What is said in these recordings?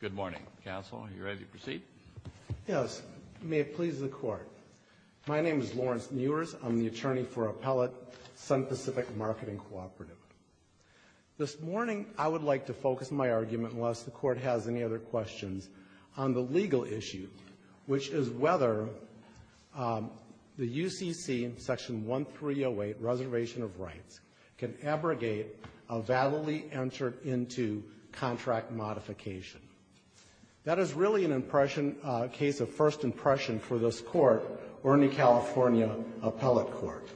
Good morning, counsel. Are you ready to proceed? Yes. May it please the Court. My name is Lawrence Newers. I'm the attorney for Appellate Sun Pacific Marketing Cooperative. This morning, I would like to focus my argument, unless the Court has any other questions, on the legal issue, which is whether the UCC Section 1308 Reservation of Rights can abrogate a validly entered into contract modification. That is really a case of first impression for this Court or any California appellate court.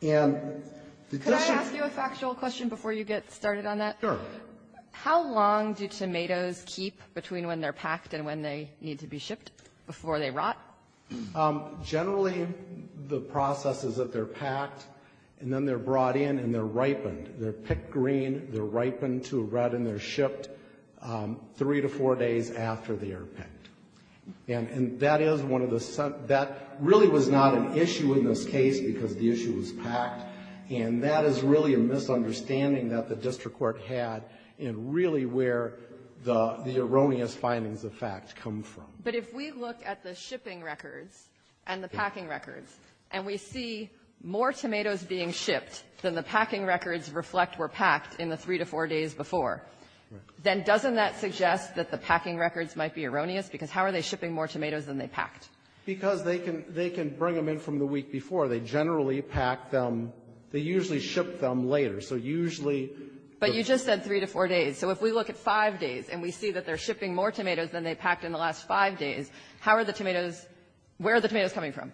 Could I ask you a factual question before you get started on that? Sure. How long do tomatoes keep between when they're packed and when they need to be shipped, before they rot? Generally, the process is that they're packed, and then they're brought in, and they're ripened. They're picked green, they're ripened to red, and they're shipped three to four days after they are picked. And that is one of the, that really was not an issue in this case, because the issue was packed. And that is really a misunderstanding that the district court had in really where the erroneous findings of fact come from. But if we look at the shipping records and the packing records, and we see more tomatoes being shipped than the packing records reflect were packed in the three to four days before, then doesn't that suggest that the packing records might be erroneous? Because how are they shipping more tomatoes than they packed? Because they can bring them in from the week before. They generally pack them. They usually ship them later. So usually the ---- But you just said three to four days. So if we look at five days, and we see that they're shipping more tomatoes than they packed in the last five days, how are the tomatoes, where are the tomatoes coming from?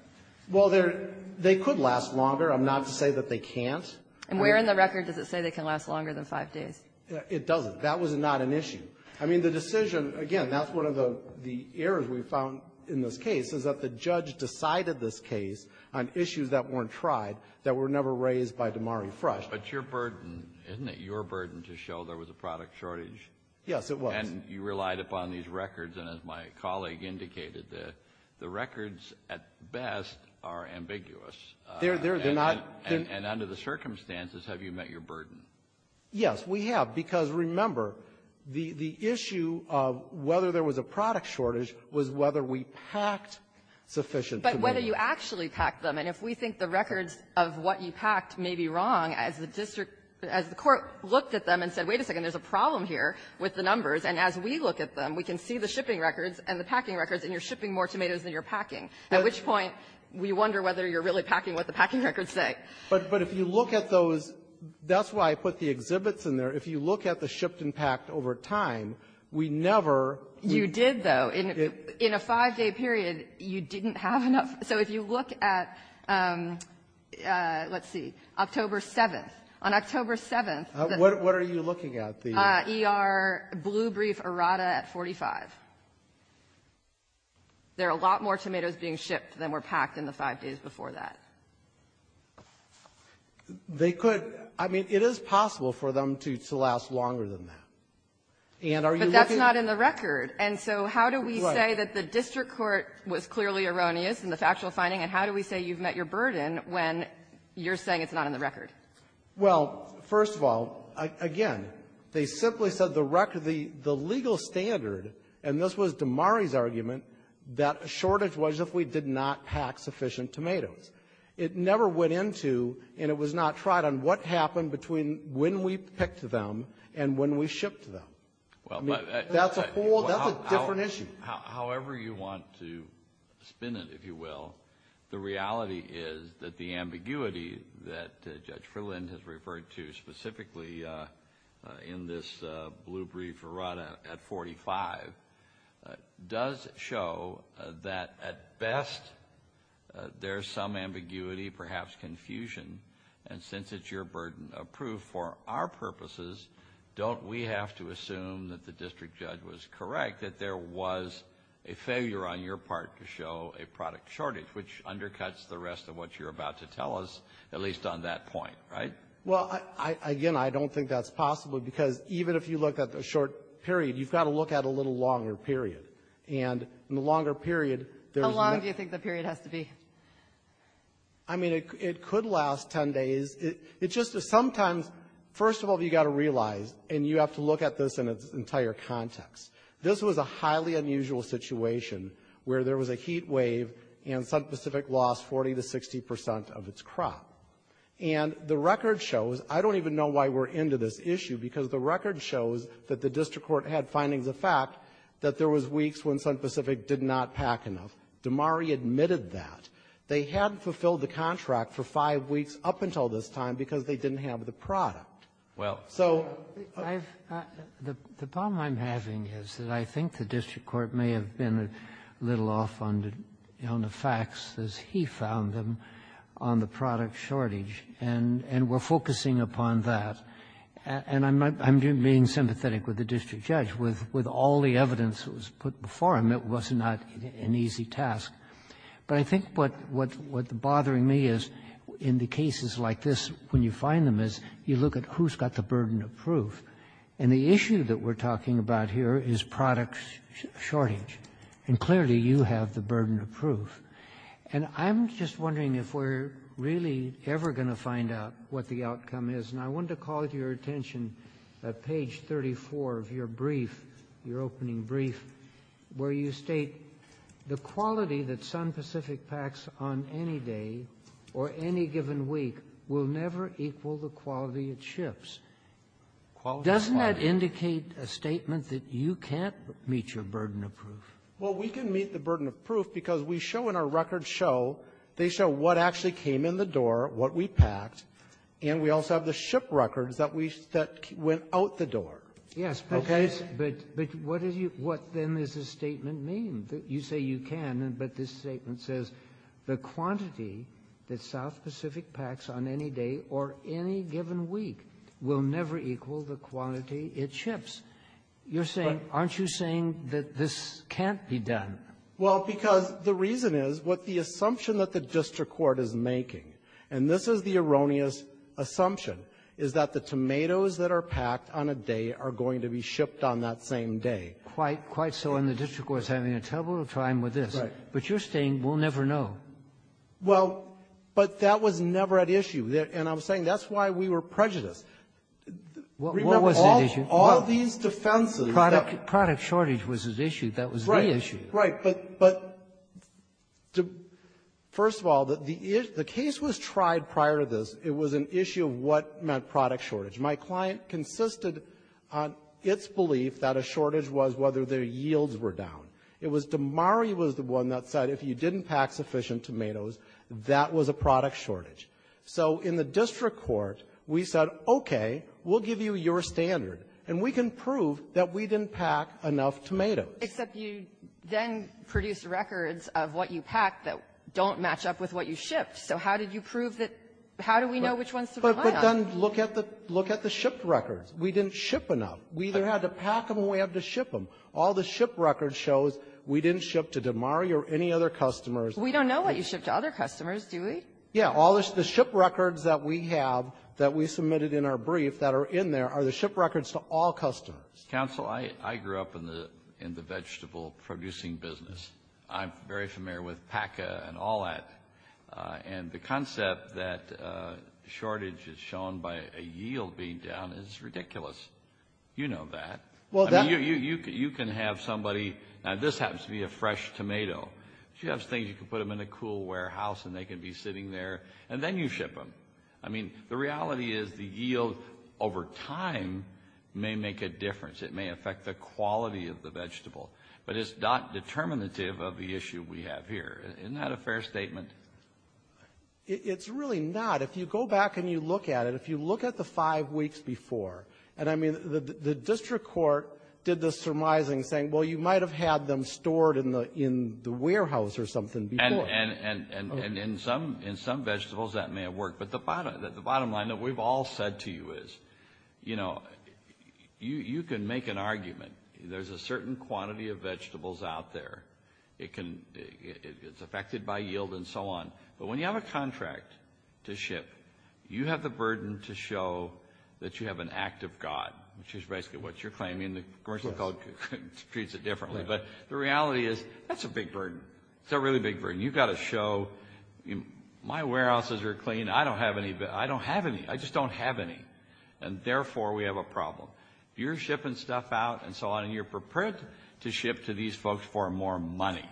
Well, they're, they could last longer. I'm not to say that they can't. And where in the record does it say they can last longer than five days? It doesn't. That was not an issue. I mean, the decision, again, that's one of the errors we found in this case, is that the judge decided this case on issues that weren't tried, that were never raised by Damari Frush. But your burden, isn't it your burden to show there was a product shortage? Yes, it was. And you relied upon these records. And as my colleague indicated, the records at best are ambiguous. They're not. And under the circumstances, have you met your burden? Yes, we have. Because, remember, the issue of whether there was a product shortage was whether we packed sufficient tomatoes. But whether you actually packed them. And if we think the records of what you packed may be wrong, as the district as the Court looked at them and said, wait a second, there's a problem here with the numbers, and as we look at them, we can see the shipping records and the packing records, and you're shipping more tomatoes than you're packing, at which point we wonder whether you're really packing what the packing records say. But if you look at those, that's why I put the exhibits in there. If you look at the shipped and packed over time, we never ---- You did, though. In a five-day period, you didn't have enough. So if you look at, let's see, October 7th. On October 7th, the ---- What are you looking at? ER blue brief errata at 45. There are a lot more tomatoes being shipped than were packed in the five days before that. They could ---- I mean, it is possible for them to last longer than that. And are you looking at ---- But that's not in the record. And so how do we say that the district court was clearly erroneous in the factual finding, and how do we say you've met your burden when you're saying it's not in the record? Well, first of all, again, they simply said the record ---- the legal standard ---- and this was Damari's argument, that a shortage was if we did not pack sufficient tomatoes. It never went into, and it was not tried, on what happened between when we picked them and when we shipped them. Well, but ---- I mean, that's a whole ---- that's a different issue. However you want to spin it, if you will, the reality is that the ambiguity that we have in this blue brief run at 45 does show that at best there's some ambiguity, perhaps confusion, and since it's your burden of proof for our purposes, don't we have to assume that the district judge was correct, that there was a failure on your part to show a product shortage, which undercuts the rest of what you're about to tell us, at least on that point, right? Well, again, I don't think that's possible, because even if you look at the short period, you've got to look at a little longer period. And in the longer period, there's no ---- How long do you think the period has to be? I mean, it could last 10 days. It's just that sometimes, first of all, you've got to realize, and you have to look at this in its entire context, this was a highly unusual situation where there was a heat wave and South Pacific lost 40 to 60 percent of its crop. And the record shows, I don't even know why we're into this issue, because the record shows that the district court had findings of fact that there was weeks when South Pacific did not pack enough. Damari admitted that. They hadn't fulfilled the contract for five weeks up until this time because they didn't have the product. Well, I've ---- The problem I'm having is that I think the district court may have been a little off on the facts as he found them on the product shortage, and we're focusing upon that. And I'm being sympathetic with the district judge. With all the evidence that was put before him, it was not an easy task. But I think what's bothering me is in the cases like this, when you find them, is you look at who's got the burden of proof. And the issue that we're talking about here is product shortage. And clearly, you have the burden of proof. And I'm just wondering if we're really ever going to find out what the outcome is. And I wanted to call to your attention at page 34 of your brief, your opening brief, where you state the quality that Sun Pacific packs on any day or any given week will never equal the quality it ships. Doesn't that indicate a statement that you can't meet your burden of proof? Well, we can meet the burden of proof because we show in our record show, they show what actually came in the door, what we packed, and we also have the ship records that we ---- that went out the door. Yes. Okay. But what is your ---- what, then, does this statement mean? You say you can, but this Sun Pacific packs on any day or any given week will never equal the quality it ships. You're saying, aren't you saying that this can't be done? Well, because the reason is what the assumption that the district court is making, and this is the erroneous assumption, is that the tomatoes that are packed on a day are going to be shipped on that same day. Quite so. And the district court is having a terrible time with this. Right. But you're saying we'll never know. Well, but that was never at issue. And I'm saying that's why we were prejudiced. Remember, all of these defenses that ---- Product shortage was at issue. That was the issue. Right. But first of all, the case was tried prior to this. It was an issue of what meant product shortage. My client consisted on its belief that a shortage was whether their yields were down. It was DeMari was the one that said if you didn't pack sufficient tomatoes, that was a product shortage. So in the district court, we said, okay, we'll give you your standard, and we can prove that we didn't pack enough tomatoes. Except you then produced records of what you packed that don't match up with what you shipped. So how did you prove that ---- How do we know which ones to rely on? But then look at the ---- look at the ship records. We didn't ship enough. We either had to pack them or we had to ship them. All the ship records shows we didn't ship to DeMari or any other customers. We don't know what you shipped to other customers, do we? Yeah. All the ship records that we have that we submitted in our brief that are in there are the ship records to all customers. Counsel, I grew up in the vegetable producing business. I'm very familiar with PACA and all that. And the concept that shortage is shown by a yield being down is ridiculous. You know that. You can have somebody, now this happens to be a fresh tomato. If you have things, you can put them in a cool warehouse, and they can be sitting there. And then you ship them. I mean, the reality is the yield over time may make a difference. It may affect the quality of the vegetable. But it's not determinative of the issue we have here. Isn't that a fair statement? It's really not. If you go back and you look at it, if you look at the five weeks before. And I mean, the district court did the surmising saying, well, you might have had them stored in the warehouse or something before. And in some vegetables, that may have worked. But the bottom line that we've all said to you is, you know, you can make an argument. There's a certain quantity of vegetables out there. It's affected by yield and so on. But when you have a contract to ship, you have the burden to show that you have an act of God, which is basically what you're claiming. The commercial code treats it differently. But the reality is, that's a big burden. It's a really big burden. You've got to show, my warehouses are clean. I don't have any. I just don't have any. And therefore, we have a problem. You're shipping stuff out and so on, and you're prepared to ship to these folks for more money.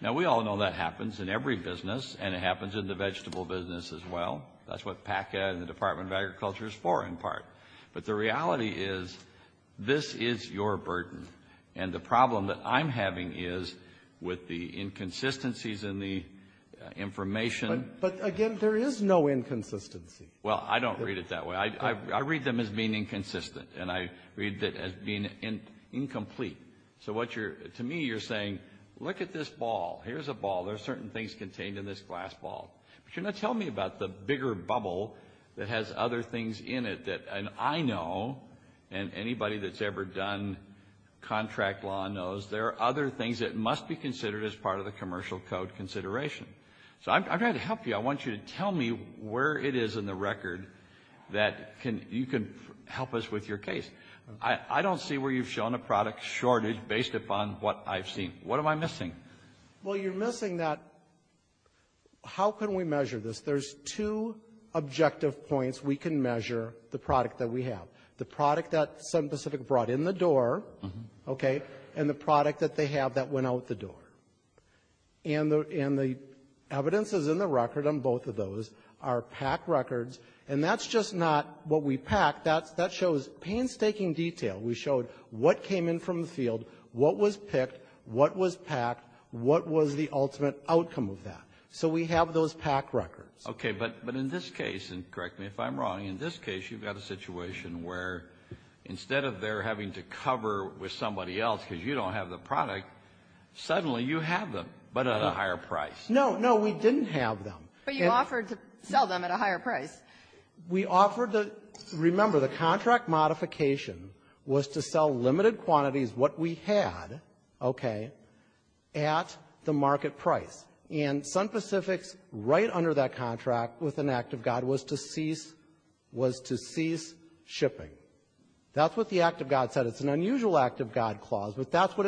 Now, we all know that happens in every business, and it happens in the vegetable business as well. That's what PACA and the Department of Agriculture is for, in part. But the reality is, this is your burden. And the problem that I'm having is, with the inconsistencies in the information. But again, there is no inconsistency. Well, I don't read it that way. I read them as being inconsistent, and I read it as being incomplete. So what you're, to me, you're saying, look at this ball. Here's a ball. There's certain things contained in this glass ball. But you're not telling me about the bigger bubble that has other things in it that, and I know, and anybody that's ever done contract law knows, there are other things that must be considered as part of the commercial code consideration. So I've got to help you. I want you to tell me where it is in the record that you can help us with your case. I don't see where you've shown a product shortage based upon what I've seen. What am I missing? Well, you're missing that how can we measure this? There's two objective points we can measure the product that we have. The product that some specific brought in the door, okay, and the product that they have that went out the door. And the evidence is in the record on both of those, our PAC records. And that's just not what we PAC. That shows painstaking detail. We showed what came in from the field, what was picked, what was PAC, what was the ultimate outcome of that. So we have those PAC records. Okay. But in this case, and correct me if I'm wrong, in this case, you've got a situation where instead of their having to cover with somebody else because you don't have the product, suddenly you have them, but at a higher price. No. No, we didn't have them. But you offered to sell them at a higher price. We offered the, remember, the contract modification was to sell limited quantities, what we had, okay, at the market price. And Sun Pacific's right under that contract with an act of God was to cease shipping. That's what the act of God said. It's an unusual act of God clause, but that's what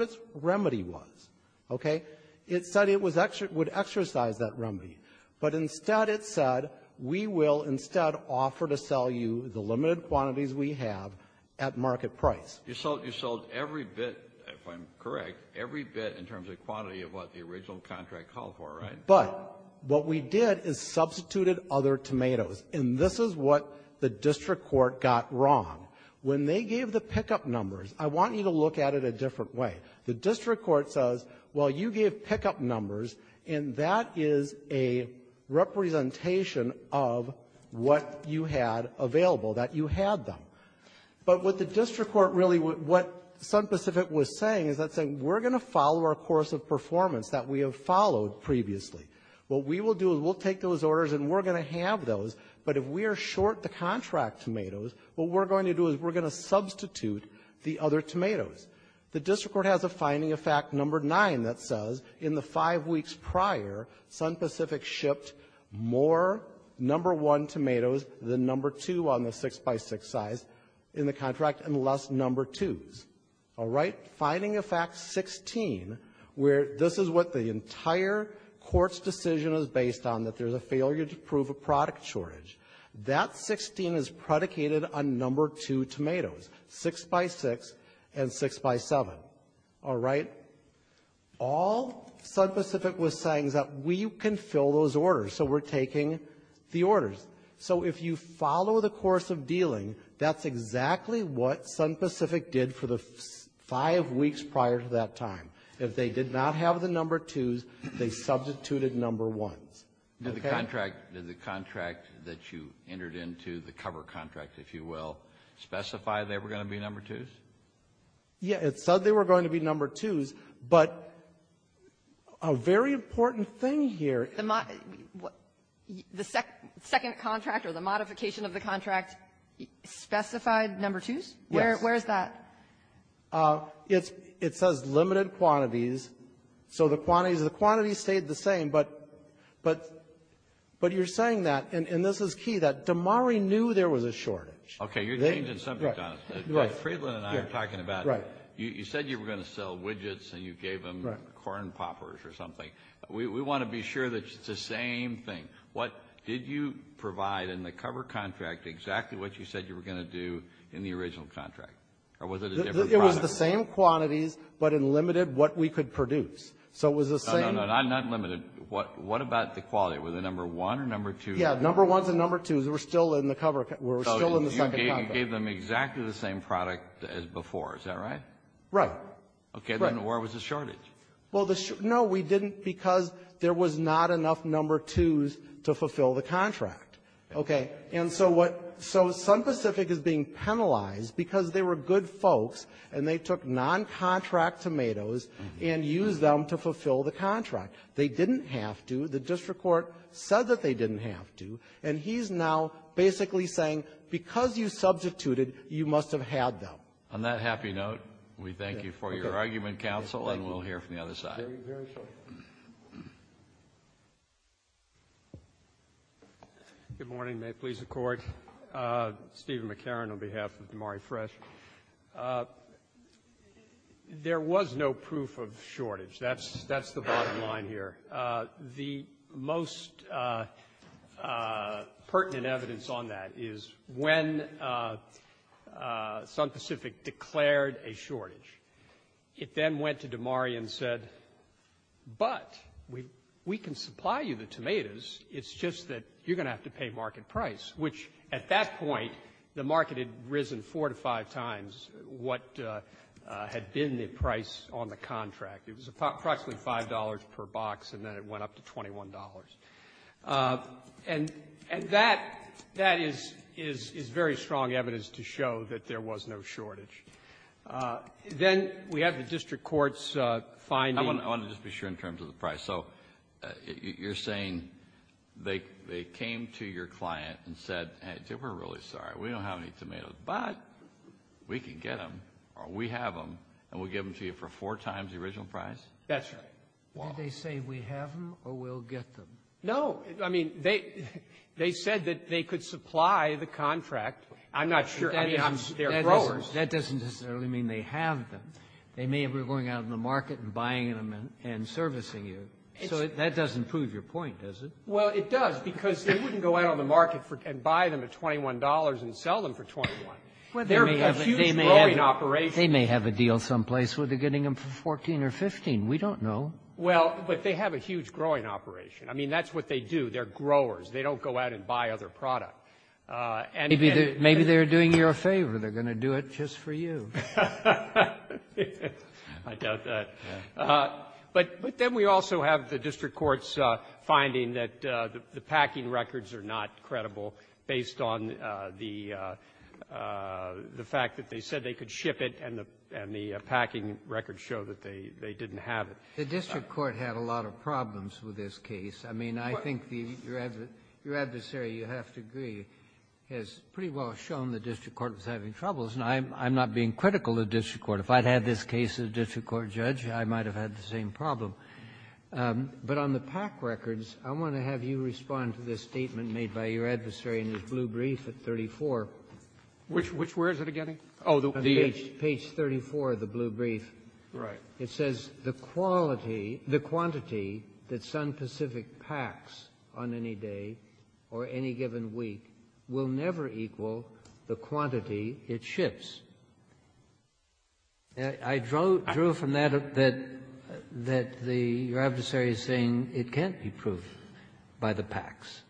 its remedy was. It said it would exercise that remedy. But instead it said, we will instead offer to sell you the limited quantities we have at market price. You sold every bit, if I'm correct, every bit in terms of quantity of what the original contract called for, right? But what we did is substituted other tomatoes, and this is what the district court got wrong. When they gave the pickup numbers, I want you to look at it a different way. The district court says, well, you gave pickup numbers, and that is a representation of what you had available, that you had them. But what the district court really, what Sun Pacific was saying is that's saying we're going to follow our course of performance that we have followed previously. What we will do is we'll take those orders and we're going to have those. But if we are short the contract tomatoes, what we're going to do is we're going to substitute the other tomatoes. The district court has a finding of fact number 9 that says in the five weeks prior, Sun Pacific shipped more number 1 tomatoes than number 2 on the 6 by 6 size in the contract, and less number 2s. All right? Finding of fact 16, where this is what the entire court's decision is based on, that there's a failure to prove a product shortage. That 16 is predicated on number 2 tomatoes, 6 by 6, and 6 by 7. All right? All Sun Pacific was saying is that we can fill those orders, so we're taking the orders. So if you follow the course of dealing, that's exactly what Sun Pacific did for the five weeks prior to that time. If they did not have the number 2s, they substituted number 1s. Did the contract that you entered into, the cover contract, if you will, specify they were going to be number 2s? Yeah. It said they were going to be number 2s, but a very important thing here. The second contract or the modification of the contract specified number 2s? Yes. Where is that? It says limited quantities, so the quantities stayed the same. But you're saying that, and this is key, that Damari knew there was a shortage. Okay, you're changing the subject on us. Fredlund and I are talking about, you said you were going to sell widgets and you gave them corn poppers or something. We want to be sure that it's the same thing. What did you provide in the cover contract, exactly what you said you were going to do in the original contract? Or was it a different product? It was the same quantities, but in limited what we could produce. So it was the same- No, no, not limited. What about the quality? Were they number 1 or number 2? Yeah, number 1s and number 2s were still in the cover, were still in the second contract. So you gave them exactly the same product as before, is that right? Right. Okay, then where was the shortage? Well, the shortage, no, we didn't because there was not enough number 2s to fulfill the contract. Okay, and so what, so Sun Pacific is being penalized because they were good folks and they took non-contract tomatoes and used them to fulfill the contract. They didn't have to. The district court said that they didn't have to. And he's now basically saying because you substituted, you must have had them. On that happy note, we thank you for your argument, counsel, and we'll hear from the other side. Good morning. May it please the Court. Stephen McCarron on behalf of DeMari Fresh. There was no proof of shortage. That's the bottom line here. The most pertinent evidence on that is when Sun Pacific declared a shortage, it then went to DeMari and said, but we can supply you the tomatoes, it's just that you're going to have to pay market price. Which, at that point, the market had risen four to five times what had been the price on the contract. It was approximately $5 per box, and then it went up to $21. And that is very strong evidence to show that there was no shortage. Then we have the district court's finding. I want to just be sure in terms of the price. So you're saying they came to your client and said, hey, we're really sorry. We don't have any tomatoes, but we can get them, or we have them, and we'll give them to you for four times the original price? That's right. Did they say we have them or we'll get them? No. I mean, they said that they could supply the contract. I'm not sure. I mean, they're growers. That doesn't necessarily mean they have them. They may have been going out in the market and buying them and servicing you. So that doesn't prove your point, does it? Well, it does, because they wouldn't go out on the market and buy them at $21 and sell them for $21. They're a huge growing operation. They may have a deal someplace where they're getting them for $14 or $15. We don't know. Well, but they have a huge growing operation. I mean, that's what they do. They're growers. They don't go out and buy other product. Maybe they're doing you a favor. They're going to do it just for you. I doubt that. But then we also have the district court's finding that the packing records are not credible based on the fact that they said they could ship it and the packing records show that they didn't have it. The district court had a lot of problems with this case. I mean, I think the your adversary, you have to agree, has pretty well shown the district court was having troubles, and I'm not being critical of the district court. If I'd had this case as a district court judge, I might have had the same problem. But on the pack records, I want to have you respond to this statement made by your adversary in his blue brief at 34. Which where is it again? Oh, the age. Page 34 of the blue brief. Right. It says, the quality, the quantity that Sun Pacific packs on any day or any given week will never equal the quantity it ships. I drew from that that the your adversary is saying it can't be proof by the packs.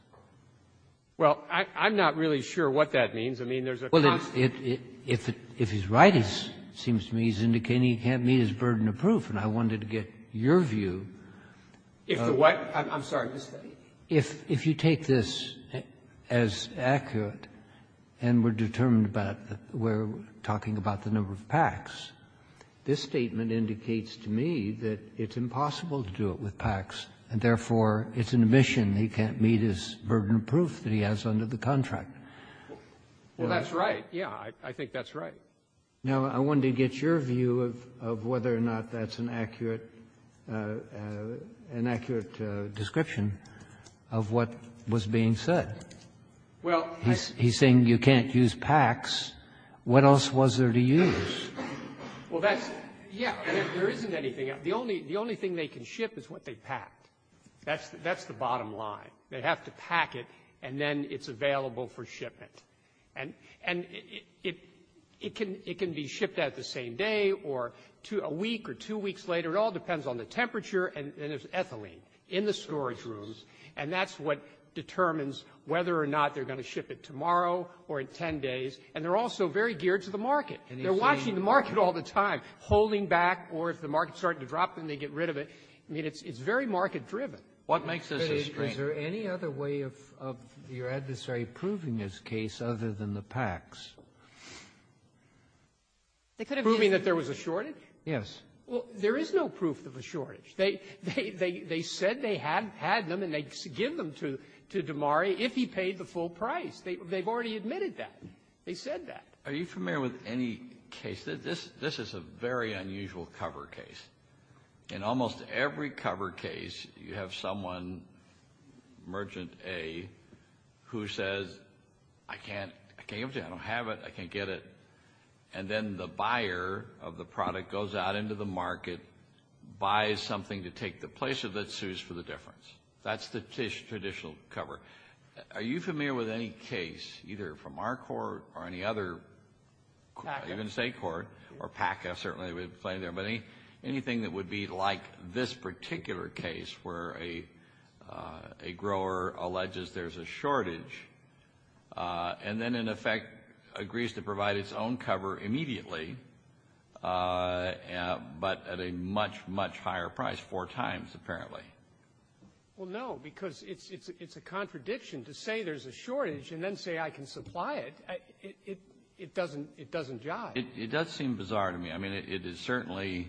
Well, I'm not really sure what that means. I mean, there's a constant If he's right, it seems to me he's indicating he can't meet his burden of proof, and I wanted to get your view. If the what? I'm sorry. If you take this as accurate, and we're determined about the we're talking about the number of packs, this statement indicates to me that it's impossible to do it with packs, and therefore, it's an admission he can't meet his burden of proof that he has under the contract. Well, that's right. Yeah. I think that's right. Now, I wanted to get your view of whether or not that's an accurate description of what was being said. Well, I He's saying you can't use packs. What else was there to use? Well, that's yeah. There isn't anything. The only thing they can ship is what they packed. That's the bottom line. They have to pack it, and then it's available for shipment. And it can be shipped out the same day or a week or two weeks later. It all depends on the temperature, and there's ethylene in the storage rooms, and that's what determines whether or not they're going to ship it tomorrow or in 10 days, and they're also very geared to the market. They're watching the market all the time, holding back, or if the market's starting to drop, then they get rid of it. I mean, it's very market-driven. What makes this a strain? Is there any other way of your adversary proving this case other than the packs? They could have proven that there was a shortage? Yes. Well, there is no proof of a shortage. They said they had them, and they give them to Damari if he paid the full price. They've already admitted that. They said that. Are you familiar with any case? This is a very unusual cover case. In almost every cover case, you have someone, merchant A, who says, I can't give it to you. I don't have it. I can't get it. And then the buyer of the product goes out into the market, buys something to take the place of it, sues for the difference. That's the traditional cover. Are you familiar with any case, either from our court or any other, even state court, or PAC, I certainly would play there, but anything that would be like this particular case where a grower alleges there's a shortage and then, in effect, agrees to provide its own cover immediately, but at a much, much higher price, four times, apparently? Well, no, because it's a contradiction to say there's a shortage and then say, I can supply it. It doesn't jive. It does seem bizarre to me. I mean, it is certainly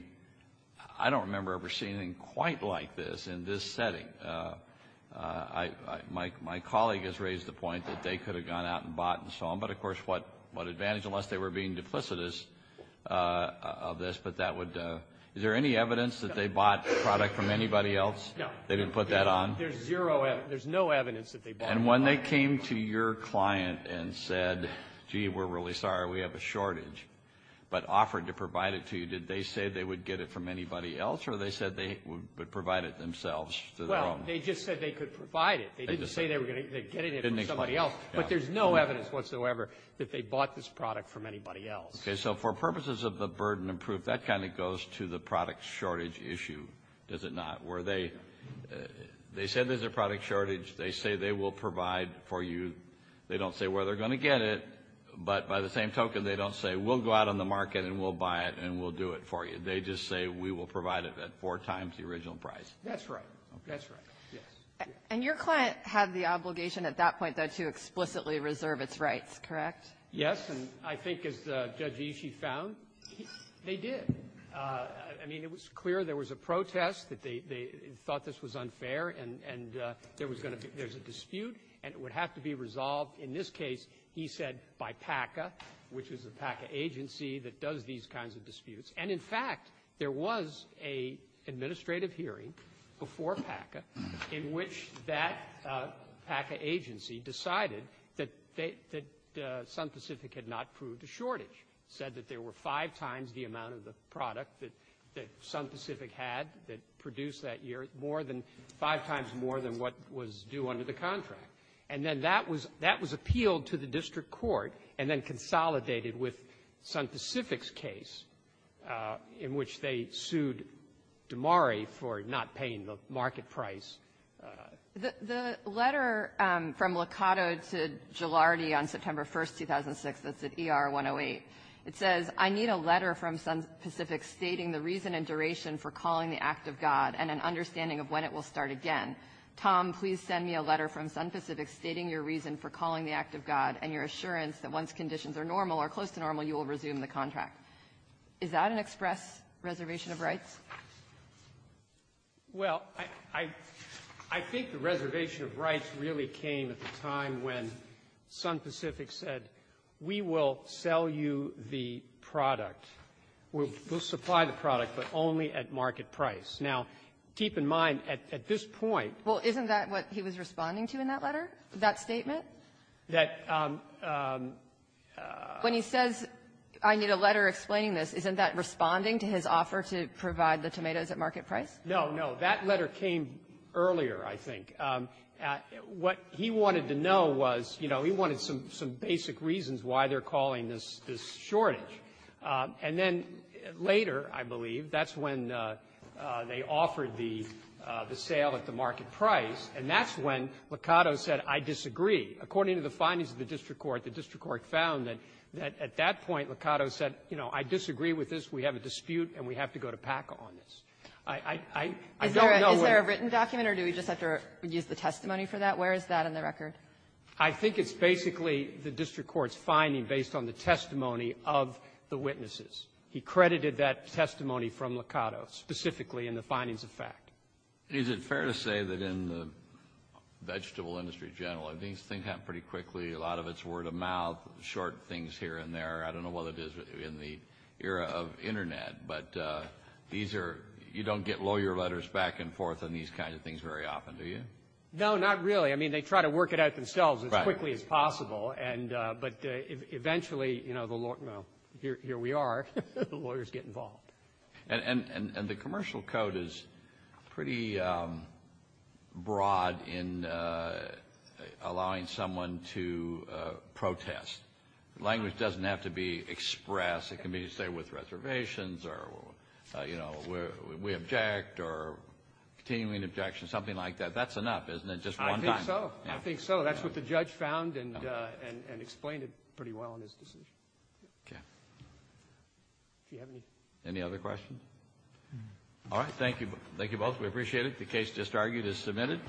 — I don't remember ever seeing anything quite like this in this setting. My colleague has raised the point that they could have gone out and bought and so on. But, of course, what advantage, unless they were being duplicitous of this, but that would — is there any evidence that they bought the product from anybody else? No. They didn't put that on? There's zero — there's no evidence that they bought it. And when they came to your client and said, gee, we're really sorry, we have a shortage, but offered to provide it to you, did they say they would get it from anybody else, or they said they would provide it themselves to their own? Well, they just said they could provide it. They didn't say they were going to get it from somebody else. But there's no evidence whatsoever that they bought this product from anybody else. Okay. So for purposes of the burden of proof, that kind of goes to the product shortage issue, does it not? Where they — they said there's a product shortage. They say they will provide for you. They don't say where they're going to get it. But by the same token, they don't say, we'll go out on the market and we'll buy it and we'll do it for you. They just say, we will provide it at four times the original price. That's right. That's right. Yes. And your client had the obligation at that point, though, to explicitly reserve its rights, correct? Yes. And I think, as Judge Ishii found, they did. I mean, it was clear there was a protest, that they thought this was unfair, and there was going to be — there's a dispute, and it would have to be resolved, in this case, he said, by PACA, which is the PACA agency that does these kinds of disputes. And, in fact, there was an administrative hearing before PACA in which that PACA agency decided that they — that Sun Pacific had not proved a shortage, said that there were five times the amount of the product that — that Sun Pacific had that produced that year, more than — five times more than what was due under the contract. And then that was — that was appealed to the district court and then consolidated with Sun Pacific's case, in which they sued Dimari for not paying the market price. The — the letter from Locato to Jilardi on September 1st, 2006, that's at ER-108. It says, I need a letter from Sun Pacific stating the reason and duration for calling the act of God and an understanding of when it will start again. Tom, please send me a letter from Sun Pacific stating your reason for calling the act of God and your assurance that once conditions are normal or close to normal, you will resume the contract. Is that an express reservation of rights? Waxman. Well, I — I think the reservation of rights really came at the time when Sun Pacific said, we will sell you the product. We'll — we'll supply the product, but only at market price. Now, keep in mind, at — at this point — Well, isn't that what he was responding to in that letter, that statement? That — When he says, I need a letter explaining this, isn't that responding to his offer to provide the tomatoes at market price? No, no. That letter came earlier, I think. What he wanted to know was, you know, he wanted some — some basic reasons why they're calling this — this shortage. And then later, I believe, that's when they offered the — the sale at the market price, and that's when Locato said, I disagree. According to the findings of the district court, the district court found that — that at that point, Locato said, you know, I disagree with this. We have a dispute, and we have to go to PACA on this. I — I — I don't know where — You used the testimony for that? Where is that in the record? I think it's basically the district court's finding based on the testimony of the witnesses. He credited that testimony from Locato, specifically in the findings of fact. Is it fair to say that in the vegetable industry in general, these things happen pretty quickly? A lot of it's word of mouth, short things here and there. I don't know what it is in the era of Internet, but these are — you don't get lawyer letters back and forth on these kinds of things very often, do you? No, not really. I mean, they try to work it out themselves as quickly as possible. And — but eventually, you know, the law — here we are, the lawyers get involved. And — and the commercial code is pretty broad in allowing someone to protest. Language doesn't have to be expressed. It can be, say, with reservations or, you know, we — we object or continuing objection, something like that. That's enough, isn't it? Just one time. I think so. I think so. That's what the judge found and — and — and explained it pretty well in his decision. Okay. Do you have any — Any other questions? All right. Thank you. Thank you both. We appreciate it. The case just argued is submitted.